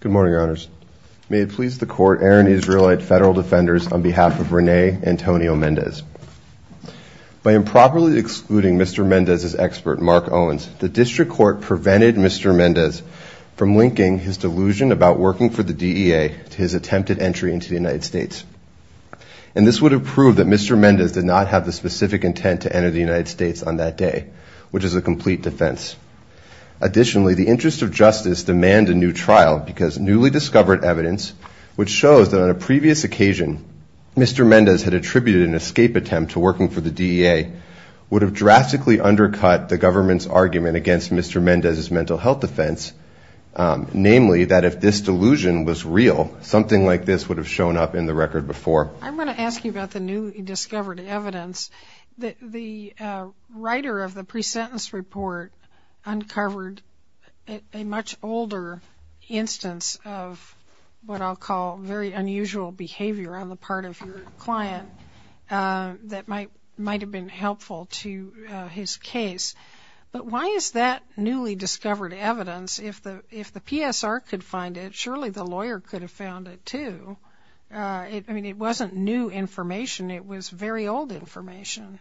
Good morning, Your Honors. May it please the Court, Aaron Israelite, Federal Defenders, on behalf of Rene Antonio Mendez. By improperly excluding Mr. Mendez's expert, Mark Owens, the District Court prevented Mr. Mendez from linking his delusion about working for the DEA to his attempted entry into the United States. And this would have proved that Mr. Mendez did not have the specific intent to enter the United States on that day, which is a complete defense. Additionally, the interests of justice demand a new trial because newly discovered evidence, which shows that on a previous occasion, Mr. Mendez had attributed an escape attempt to working for the DEA, would have drastically undercut the government's self-defense. Namely, that if this delusion was real, something like this would have shown up in the record before. I'm going to ask you about the newly discovered evidence. The writer of the pre-sentence report uncovered a much older instance of what I'll call very unusual behavior on the part of your client that might have been helpful to his case. But why is that newly discovered evidence, if the PSR could find it, surely the lawyer could have found it too. I mean, it wasn't new information, it was very old information.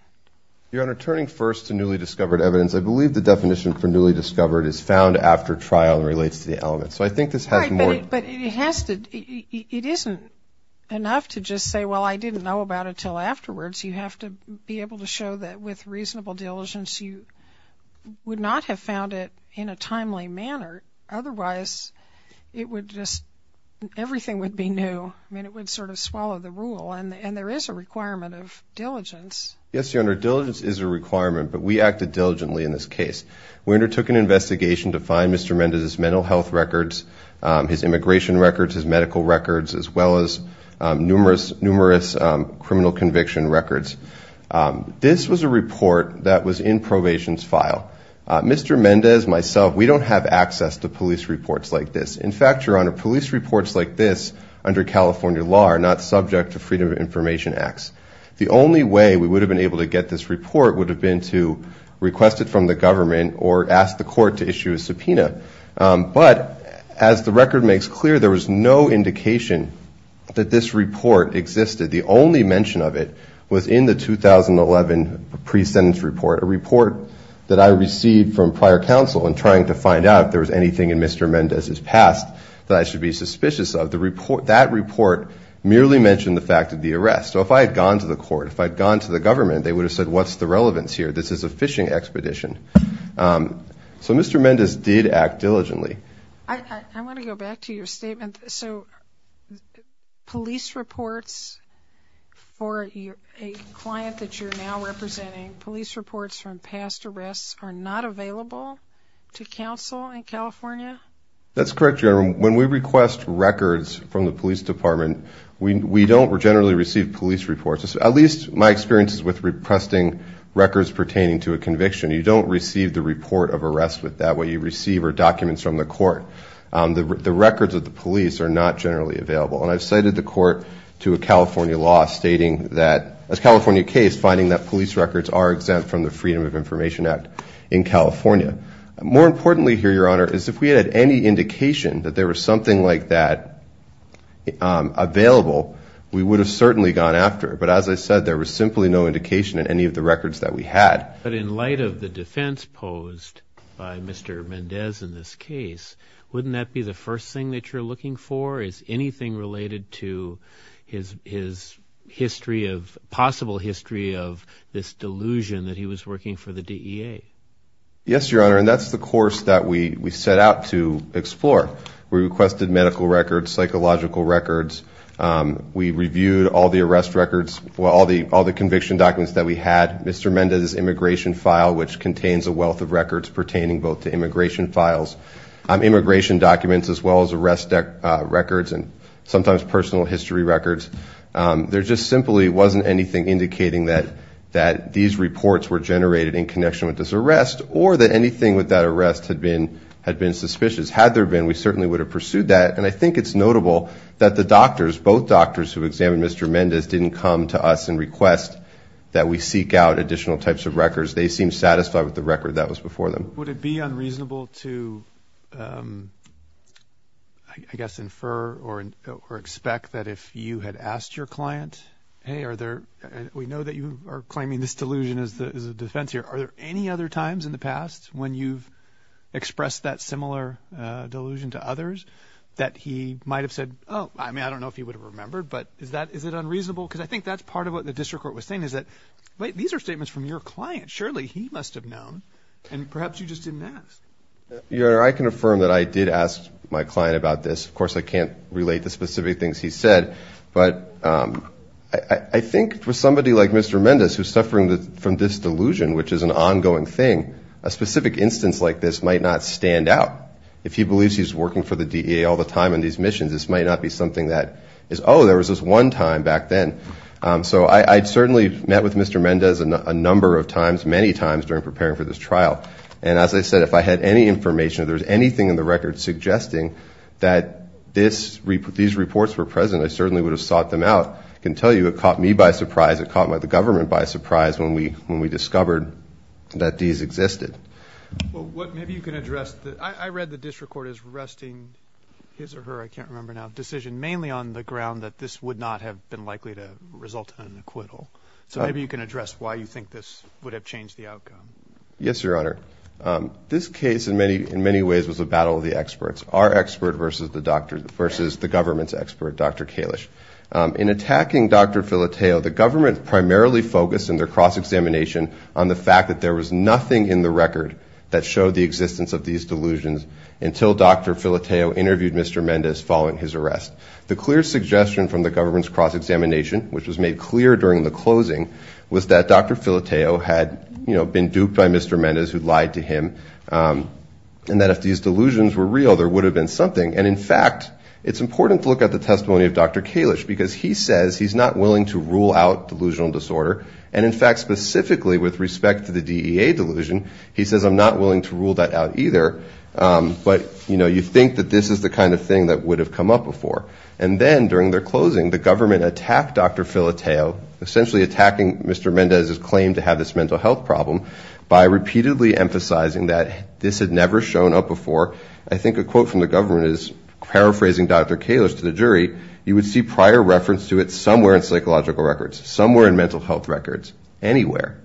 Your Honor, turning first to newly discovered evidence, I believe the definition for newly discovered is found after trial and relates to the element. So I think this has more But it has to, it isn't enough to just say, well, I didn't know about it until afterwards. You have to be able to show that with reasonable diligence, you would not have found it in a timely manner. Otherwise, it would just, everything would be new. I mean, it would sort of swallow the rule. And there is a requirement of diligence. Yes, Your Honor, diligence is a requirement, but we acted diligently in this case. We undertook an investigation to find Mr. Mendez's mental health records, his immigration records, his medical records, as well as numerous criminal conviction records. This was a report that was in probation's file. Mr. Mendez, myself, we don't have access to police reports like this. In fact, Your Honor, police reports like this under California law are not subject to Freedom of Information Acts. The only way we would have been able to get this report would have been to request it from the government or ask the court to issue a subpoena. But as the record makes clear, there was no indication that this report existed. The only mention of it was in the 2011 pre-sentence report, a report that I received from prior counsel in trying to find out if there was anything in Mr. Mendez's past that I should be suspicious of. That report merely mentioned the fact of the arrest. So if I had gone to the court, if I had gone to the government, they would have said, what's the relevance here? This is a fishing expedition. So Mr. Mendez did act diligently. I want to go back to your statement. So police reports for a client that you're now representing, police reports from past arrests are not available to counsel in California? That's correct, Your Honor. When we request records from the police department, we don't generally receive police reports. At least my experience is with requesting records pertaining to a conviction. You don't receive the report of arrest with that. What you receive are documents from the court. The records of the police are not generally available. And I've cited the court to a California law stating that, as a California case, finding that police records are exempt from the Freedom of Information Act in California. More importantly here, Your Honor, is if we had any indication that there was something like that available, we would have certainly gone after it. But as I said, there was simply no indication in any of the records that we had. But in light of the defense posed by Mr. Mendez in this case, wouldn't that be the first thing that you're looking for? Is anything related to his history of, possible history of this delusion that he was working for the DEA? Yes, Your Honor. And that's the course that we set out to explore. We requested medical records, psychological records. We reviewed all the arrest records, all the conviction documents that we had. Mr. Mendez's immigration file, which contains a wealth of records pertaining both to immigration files, immigration documents as well as arrest records and sometimes personal history records. There just simply wasn't anything indicating that these reports were arrest or that anything with that arrest had been suspicious. Had there been, we certainly would have pursued that. And I think it's notable that the doctors, both doctors who examined Mr. Mendez, didn't come to us and request that we seek out additional types of records. They seemed satisfied with the record that was before them. Would it be unreasonable to, I guess, infer or expect that if you had asked your client, hey, are there, we know that you are claiming this delusion as a defense here. Are there any other times in the past when you've expressed that similar delusion to others that he might have said, oh, I mean, I don't know if he would have remembered, but is that, is it unreasonable? Because I think that's part of what the district court was saying is that, wait, these are statements from your client. Surely he must have known. And perhaps you just didn't ask. Your Honor, I can affirm that I did ask my client about this. Of course, I can't relate the specific things he said, but I think for somebody like Mr. Mendez who's suffering from this delusion, which is an ongoing thing, a specific instance like this might not stand out. If he believes he's working for the DEA all the time on these missions, this might not be something that is, oh, there was this one time back then. So I certainly met with Mr. Mendez a number of times, many times, during preparing for this trial. And as I said, if I had any information, if there was anything in the record suggesting that these reports were present, I certainly would have sought them out. I can tell you it caught me by surprise. It caught the government by surprise when we discovered that these existed. Well, what maybe you can address, I read the district court is arresting his or her, I can't remember now, decision mainly on the ground that this would not have been likely to result in an acquittal. So maybe you can address why you think this would have changed the outcome. Yes, Your Honor. This case in many ways was a battle of the experts. Our expert versus the government's expert, Dr. Kalish. In attacking Dr. Filoteo, the government primarily focused in their cross-examination on the fact that there was nothing in the record that showed the existence of these delusions until Dr. Filoteo interviewed Mr. Mendez following his arrest. The clear suggestion from the government's cross-examination, which was made clear during the closing, was that Dr. Filoteo had been duped by Mr. Mendez, who lied to him, and that if these delusions were real, there would have been something. And in fact, it's important to look at the testimony of Dr. Kalish because he says he's not willing to rule out delusional disorder. And in fact, specifically with respect to the DEA delusion, he says, I'm not willing to rule that out either. But you think that this is the kind of thing that would have come up before. And then during their closing, the government attacked Dr. Filoteo, essentially attacking Mr. Mendez's claim to have this mental health problem, by repeatedly emphasizing that this had never shown up before. I think a quote from the government is paraphrasing Dr. Kalish to the jury, you would see prior reference to it somewhere in psychological records, somewhere in mental health records, anywhere.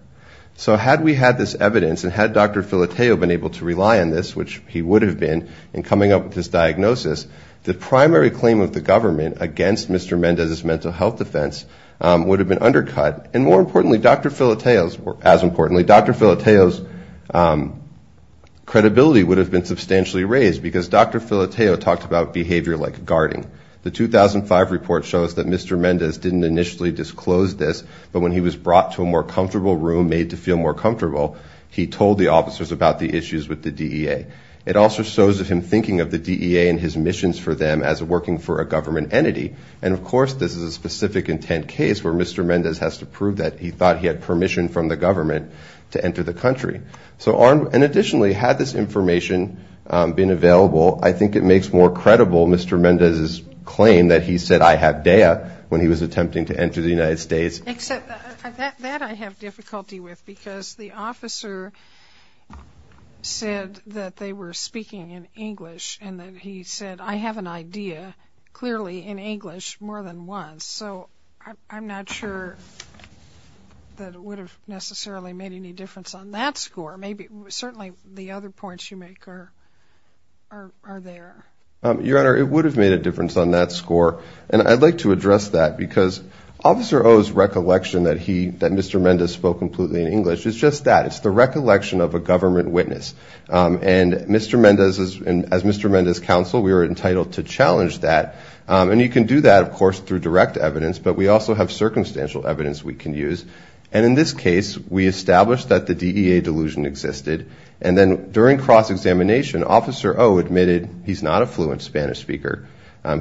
So had we had this evidence and had Dr. Filoteo been able to rely on this, which he would have been in coming up with this diagnosis, the primary claim of the government against Mr. Mendez's mental health defense would have been undercut. And more importantly, Dr. Filoteo's credibility would have been substantially raised, because Dr. Filoteo talked about behavior like guarding. The 2005 report shows that Mr. Mendez didn't initially disclose this, but when he was brought to a more comfortable room, made to feel more comfortable, he told the officers about the issues with the DEA. It also shows of him thinking of the DEA and his missions for them as working for a government entity. And of course, this is a specific intent case where Mr. Mendez has to prove that he thought he had permission from the government to enter the country. So and additionally, had this information been available, I think it makes more credible Mr. Mendez's claim that he said, I have DEA, when he was attempting to enter the United States. Except that I have difficulty with, because the officer said that they were speaking in English and that he said, I have an idea, clearly in English, more than once. So I'm not sure that it would have necessarily made any difference on that score. Maybe, certainly the other points you make are, are there. Your Honor, it would have made a difference on that score. And I'd like to address that, because Officer O's recollection that he, that Mr. Mendez spoke completely in English is just that. It's the recollection of a government witness. And Mr. Mendez, as Mr. Mendez's counsel, we were entitled to challenge that. And you can do that, of course, through direct evidence, but we also have circumstantial evidence we can use. And in this case, we established that the DEA delusion existed. And then during cross-examination, Officer O admitted he's not a fluent Spanish speaker.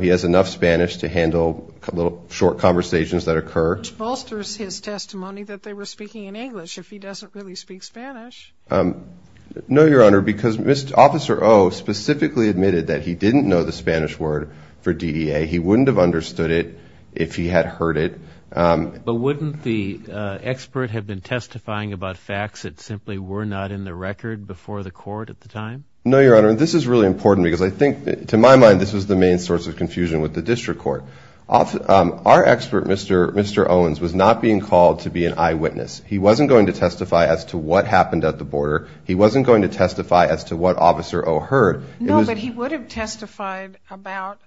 He has enough Spanish to handle little short conversations that occur. Which bolsters his testimony that they were speaking in English, if he doesn't really speak Spanish. No, Your Honor, because Mr. Officer O specifically admitted that he didn't know the Spanish word for DEA. He wouldn't have understood it if he had heard it. But wouldn't the expert have been testifying about facts that simply were not in the record before the court at the time? No, Your Honor, this is really important, because I think, to my mind, this was the main source of confusion with the district court. Our expert, Mr. Owens, was not being called to be an eyewitness. He wasn't going to testify as to what happened at the border. He wasn't going to testify as to what Officer O heard. No, but he would have testified about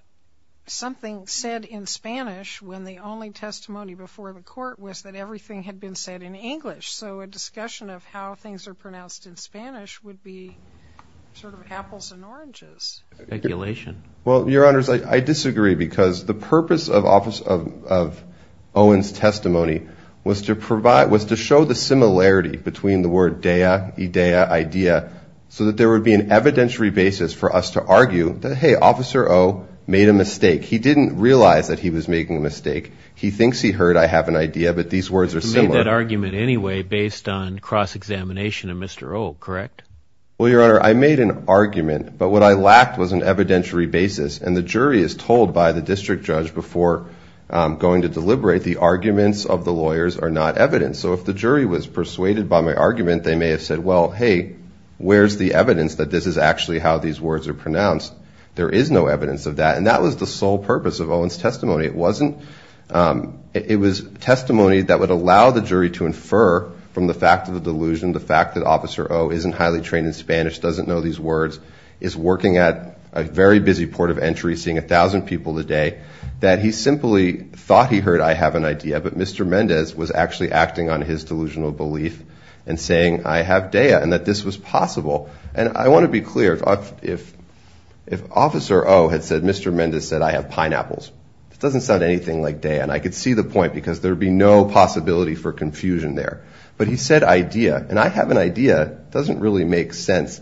something said in Spanish when the only testimony before the court was that everything had been said in English. So a discussion of how things are pronounced in Spanish would be sort of apples and oranges. Speculation. Well, Your Honors, I disagree, because the purpose of Owens' testimony was to provide was to show the similarity between the word DEA, IDEA, idea, so that there would be an evidentiary basis for us to argue that, hey, Officer O made a mistake. He didn't realize that he was making a mistake. He thinks he heard I have an idea, but these words are similar. He made that argument anyway based on cross-examination of Mr. O, correct? Well, Your Honor, I made an argument, but what I lacked was an evidentiary basis. And the jury is told by the district judge before going to deliberate, the arguments of the lawyers are not evidence. So if the jury was persuaded by my argument, they may have said, well, hey, where's the evidence that this is actually how these words are pronounced? There is no evidence of that. And that was the sole purpose of Owens' testimony. It wasn't – it was testimony that would allow the jury to infer from the fact of the delusion, the fact that Officer O isn't highly trained in Spanish, doesn't know these words, is working at a very busy port of entry, seeing 1,000 people a day, that he simply thought he heard I have an idea, but Mr. Mendez was actually acting on his delusional belief and saying I have DEA and that this was possible. And I want to be clear, if Officer O had said Mr. Mendez said I have pineapples, it doesn't sound anything like DEA. And I could see the point because there would be no possibility for confusion there. But he said idea. And I have an idea. It doesn't really make sense.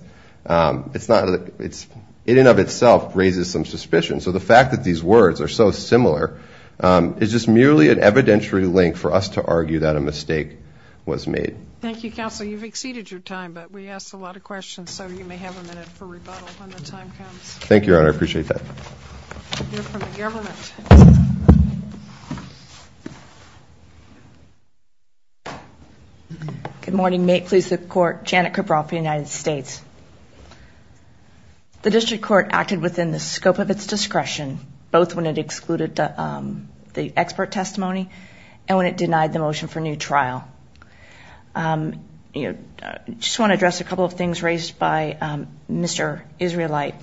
It's not – it in and of itself raises some suspicion. So the fact that these words are so similar is just merely an evidentiary link for us to argue that a mistake was made. Thank you, Counsel. You've exceeded your time, but we asked a lot of questions, so you may have a minute for rebuttal when the time comes. Thank you, Your Honor. I appreciate that. We'll hear from the government. Good morning. May it please the Court. Janet Cabral for the United States. The District Court acted within the scope of its discretion, both when it excluded the expert testimony and when it denied the motion for new trial. I just want to address a couple of things raised by Mr. Israelite.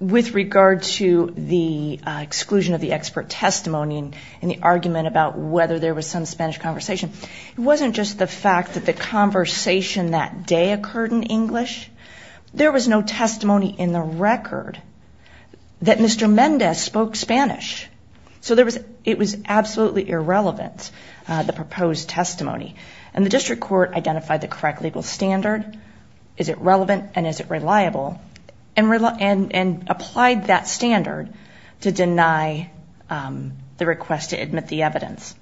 With regard to the exclusion of the expert testimony and the argument about whether there was some Spanish conversation, it wasn't just the fact that the conversation that day occurred in English. There was no testimony in the record that it was absolutely irrelevant, the proposed testimony. And the District Court identified the correct legal standard. Is it relevant and is it reliable? And applied that standard to deny the request to admit the evidence.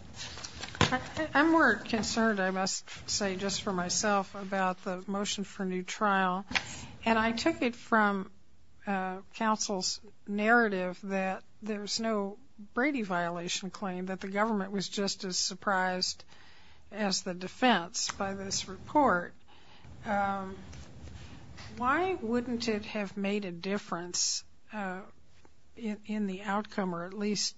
I'm more concerned, I must say, just for myself, about the motion for new trial. And I took it from counsel's narrative that there was no Brady violation claim, that the government was just as surprised as the defense by this report. Why wouldn't it have made a difference in the outcome or at least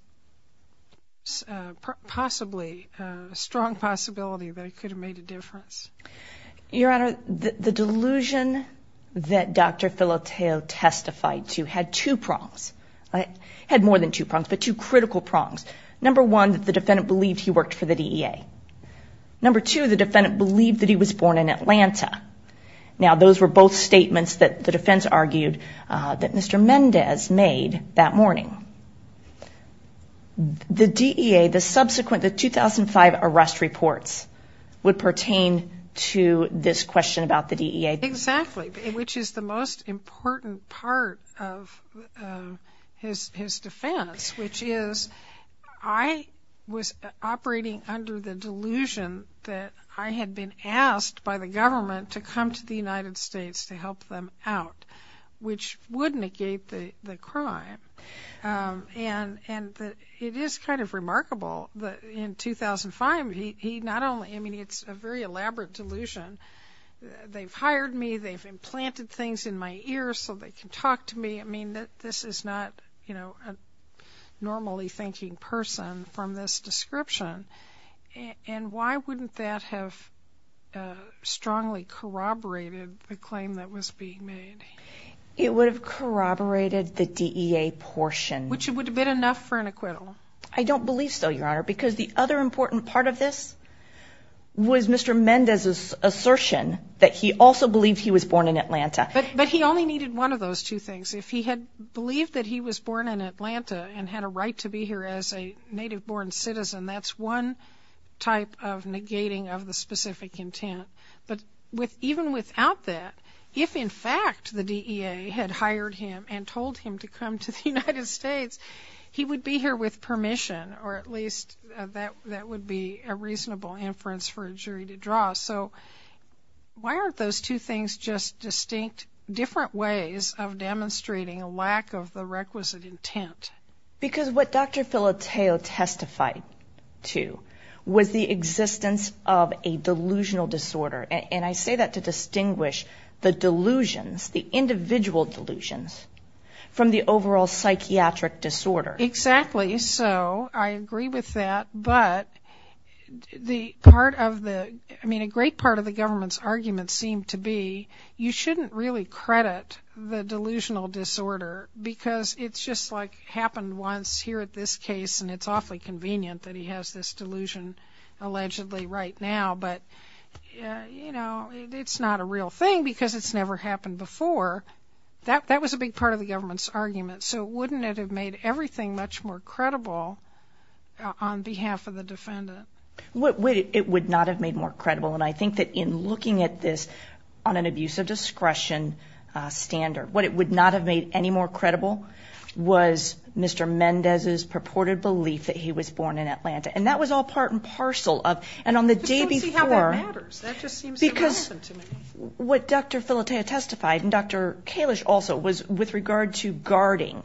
possibly a strong possibility that it could have made a difference? Your Honor, the delusion that Dr. Filoteo testified to had two prongs, had more than two prongs, but two critical prongs. Number one, that the defendant believed he worked for the DEA. Number two, the defendant believed that he was born in Atlanta. Now those were both statements that the defense argued that Mr. Mendez made that morning. The DEA, the question about the DEA. Exactly, which is the most important part of his defense, which is, I was operating under the delusion that I had been asked by the government to come to the United States to help them out, which would negate the crime. And it is kind of remarkable that in 2005, he not only, I mean it's a very elaborate delusion, they've hired me, they've implanted things in my ear so they can talk to me. I mean, this is not a normally thinking person from this description. And why wouldn't that have strongly corroborated the claim that was being made? It would have corroborated the DEA portion. Which would have been enough for an acquittal. I don't believe so, Your Honor, because the other important part of this was Mr. Mendez's assertion that he also believed he was born in Atlanta. But he only needed one of those two things. If he had believed that he was born in Atlanta and had a right to be here as a native-born citizen, that's one type of negating of the specific intent. But even without that, if in fact the DEA had hired him and told him to come to the United States, he would be here with permission, or at least that would be a reasonable inference for a jury to draw. So why aren't those two things just distinct different ways of demonstrating a lack of the requisite intent? Because what Dr. Filoteo testified to was the existence of a delusional disorder. And I say that to distinguish the delusions, the individual delusions, from the overall psychiatric disorder. Exactly. So I agree with that. But the part of the, I mean a great part of the government's argument seemed to be you shouldn't really credit the delusional disorder because it's just like happened once here at this case and it's awfully convenient that he has this It's not a real thing because it's never happened before. That was a big part of the government's argument. So wouldn't it have made everything much more credible on behalf of the defendant? It would not have made more credible. And I think that in looking at this on an abuse of discretion standard, what it would not have made any more credible was Mr. Mendez's purported belief that he was born in Atlanta. And that was all part and parcel of, and on the day before, because what Dr. Filoteo testified and Dr. Kalish also was with regard to guarding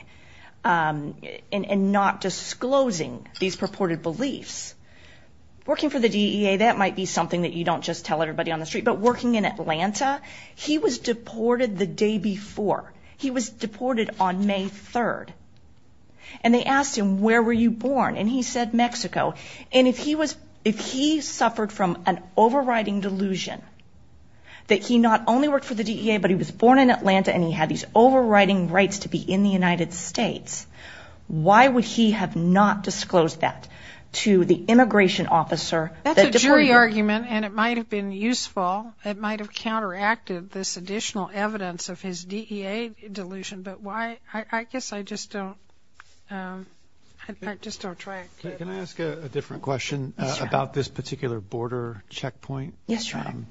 and not disclosing these purported beliefs. Working for the DEA, that might be something that you don't just tell everybody on the street, but working in Atlanta, he was deported the day before. He was deported on May 3rd. And they asked him, where were you born? And he said, Mexico. And if he was, if he suffered from an overriding delusion that he not only worked for the DEA, but he was born in Atlanta and he had these overriding rights to be in the United States, why would he have not disclosed that to the immigration officer? That's a jury argument and it might have been useful. It might have counteracted this additional evidence of his DEA delusion, but why, I guess I just don't, I just don't try to. Can I ask a different question about this particular border checkpoint? Yes, your honor.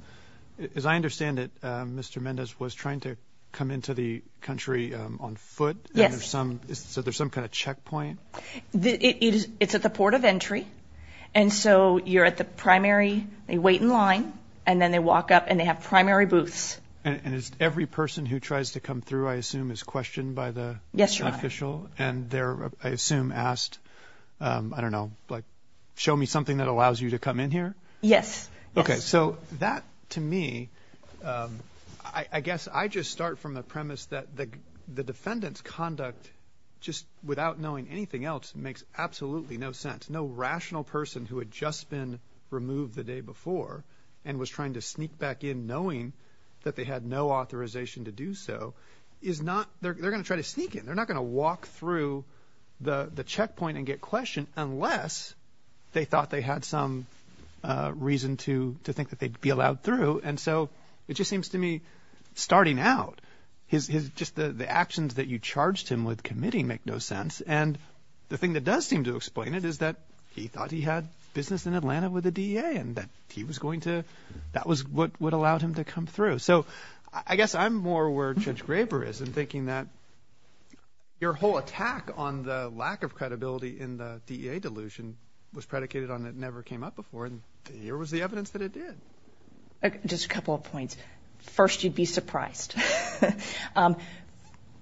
As I understand it, Mr. Mendez was trying to come into the country on foot. Yes. And there's some, so there's some kind of checkpoint? It's at the port of entry. And so you're at the primary, they wait in line and then they walk up and they have primary booths. And it's every person who tries to come through, I assume is questioned by the official and they're, I assume asked, um, I don't know, like show me something that allows you to come in here. Yes. Okay. So that to me, um, I guess I just start from the premise that the, the defendant's conduct just without knowing anything else makes absolutely no sense. No rational person who had just been removed the day before and was trying to sneak back in knowing that they had no authorization to do so is not, they're going to try to sneak in. They're not going to walk through the checkpoint and get questioned unless they thought they had some, uh, reason to, to think that they'd be allowed through. And so it just seems to me starting out his, his, just the, the actions that you charged him with committing make no sense. And the thing that does seem to explain it is that he thought he had business in Atlanta with the DEA and that he was going to, that was what would allow him to come through. So I guess I'm more where Judge Graber is in thinking that your whole attack on the lack of credibility in the DEA delusion was predicated on, it never came up before and here was the evidence that it did. Just a couple of points. First, you'd be surprised. Um,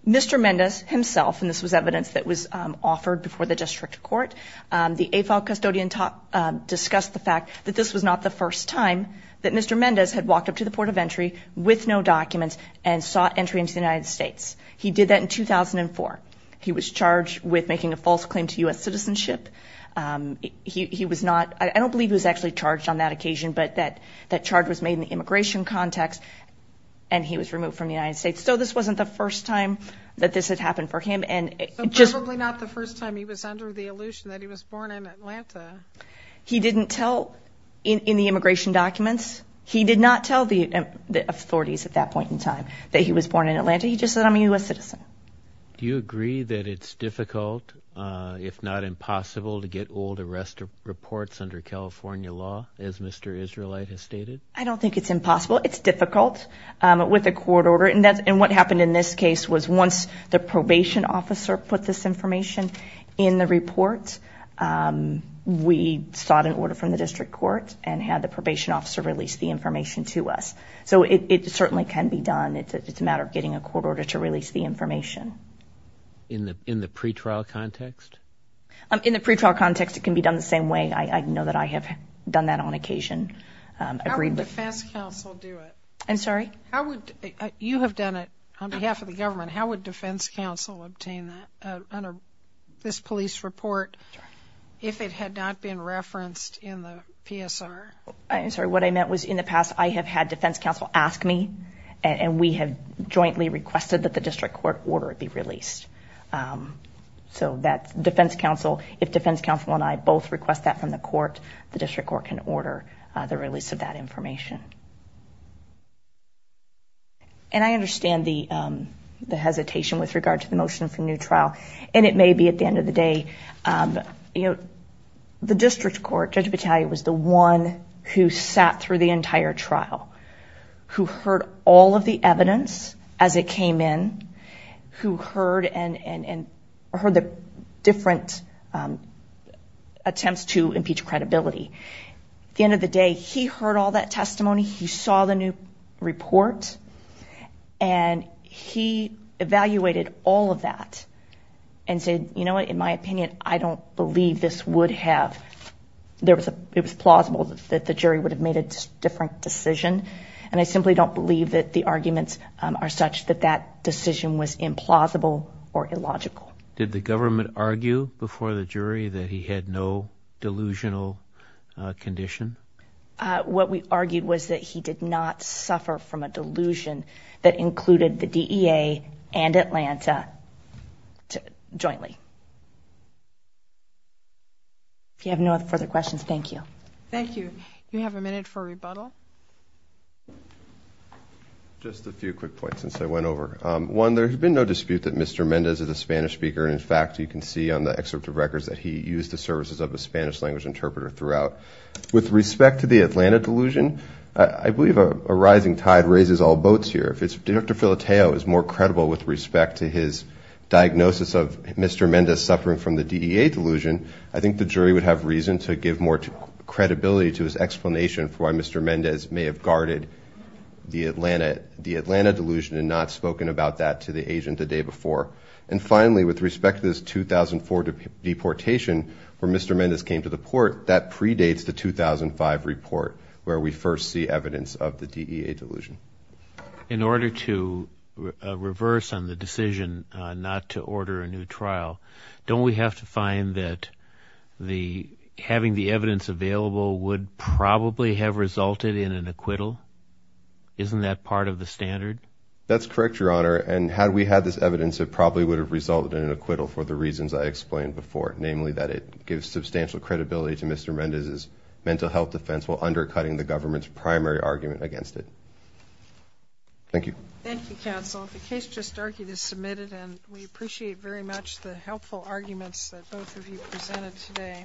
Mr. Mendez himself, and this was evidence that was, um, offered before the district court. Um, the AFOL custodian talk, um, discussed the fact that this was not the first time that Mr. Mendez had walked up to the port of entry with no documents and sought entry into the United States. He did that in 2004. He was charged with making a false claim to U.S. citizenship. Um, he, he was not, I don't believe he was actually charged on that occasion, but that, that charge was made in the immigration context and he was removed from the United States. So this wasn't the first time that this had happened for him. And it just, So probably not the first time he was under the illusion that he was born in Atlanta. He didn't tell in, in the immigration documents. He did not tell the authorities at that point in time that he was born in Atlanta. He just said, I'm a U.S. citizen. Do you agree that it's difficult, uh, if not impossible to get old arrest reports under California law as Mr. Israelite has stated? I don't think it's impossible. It's difficult, um, with a court order. And that's, and what happened in this case was once the probation officer put this information in the report, um, we sought an order from the district court and had the probation officer release the information to us. So it certainly can be done. It's a, it's a matter of getting a court order to release the information. In the, in the pretrial context? In the pretrial context, it can be done the same way. I, I know that I have done that on occasion. Um, agreed with How would defense counsel do it? I'm sorry? How would you have done it on behalf of the government? How would defense counsel obtain that, uh, under this police report if it had not been referenced in the PSR? I'm sorry, what I meant was in the past I have had defense counsel ask me and we have jointly requested that the district court order it be released. Um, so that defense counsel, if defense counsel and I both request that from the court, the district court can order the release of that information. And I understand the, um, the hesitation with regard to the motion for a new trial and it may be at the end of the day, um, you know, the district court, Judge Battaglia was the one who sat through the entire trial, who heard all of the evidence as it came in, who heard and, and, and heard the different, um, attempts to impeach credibility. At the end of the day, he heard all that testimony. He saw the new report and he evaluated all of that and said, you know what, in my opinion, I don't believe this would have, there was a, it was plausible that the jury would have made a different decision. And I simply don't believe that the arguments are such that that decision was implausible or illogical. Did the government argue before the jury that he had no delusional condition? Uh, what we argued was that he did not suffer from a delusion that included the DEA and Atlanta jointly. If you have no further questions, thank you. Thank you. You have a minute for rebuttal. Just a few quick points since I went over. Um, one, there's been no dispute that Mr. Mendes is a Spanish speaker. And in fact, you can see on the excerpt of records that he used the services of a Spanish language interpreter throughout. With respect to the Atlanta delusion, I believe a rising tide raises all boats here. If it's, if Dr. Filoteo is more credible with respect to his diagnosis of Mr. Mendes suffering from the DEA delusion, I think the jury would have reason to give more credibility to his explanation for why Mr. Mendes may have guarded the Atlanta, the Atlanta delusion and not spoken about that to the jury. And finally, with respect to this 2004 deportation where Mr. Mendes came to the court, that predates the 2005 report where we first see evidence of the DEA delusion. In order to reverse on the decision not to order a new trial, don't we have to find that the having the evidence available would probably have resulted in an acquittal? Isn't that part of the standard? That's correct, Your Honor. And had we had this evidence, it probably would have resulted in an acquittal for the reasons I explained before, namely that it gives substantial credibility to Mr. Mendes' mental health defense while undercutting the government's primary argument against it. Thank you. Thank you, counsel. The case just argued is submitted and we appreciate very much the helpful arguments that both of you presented today.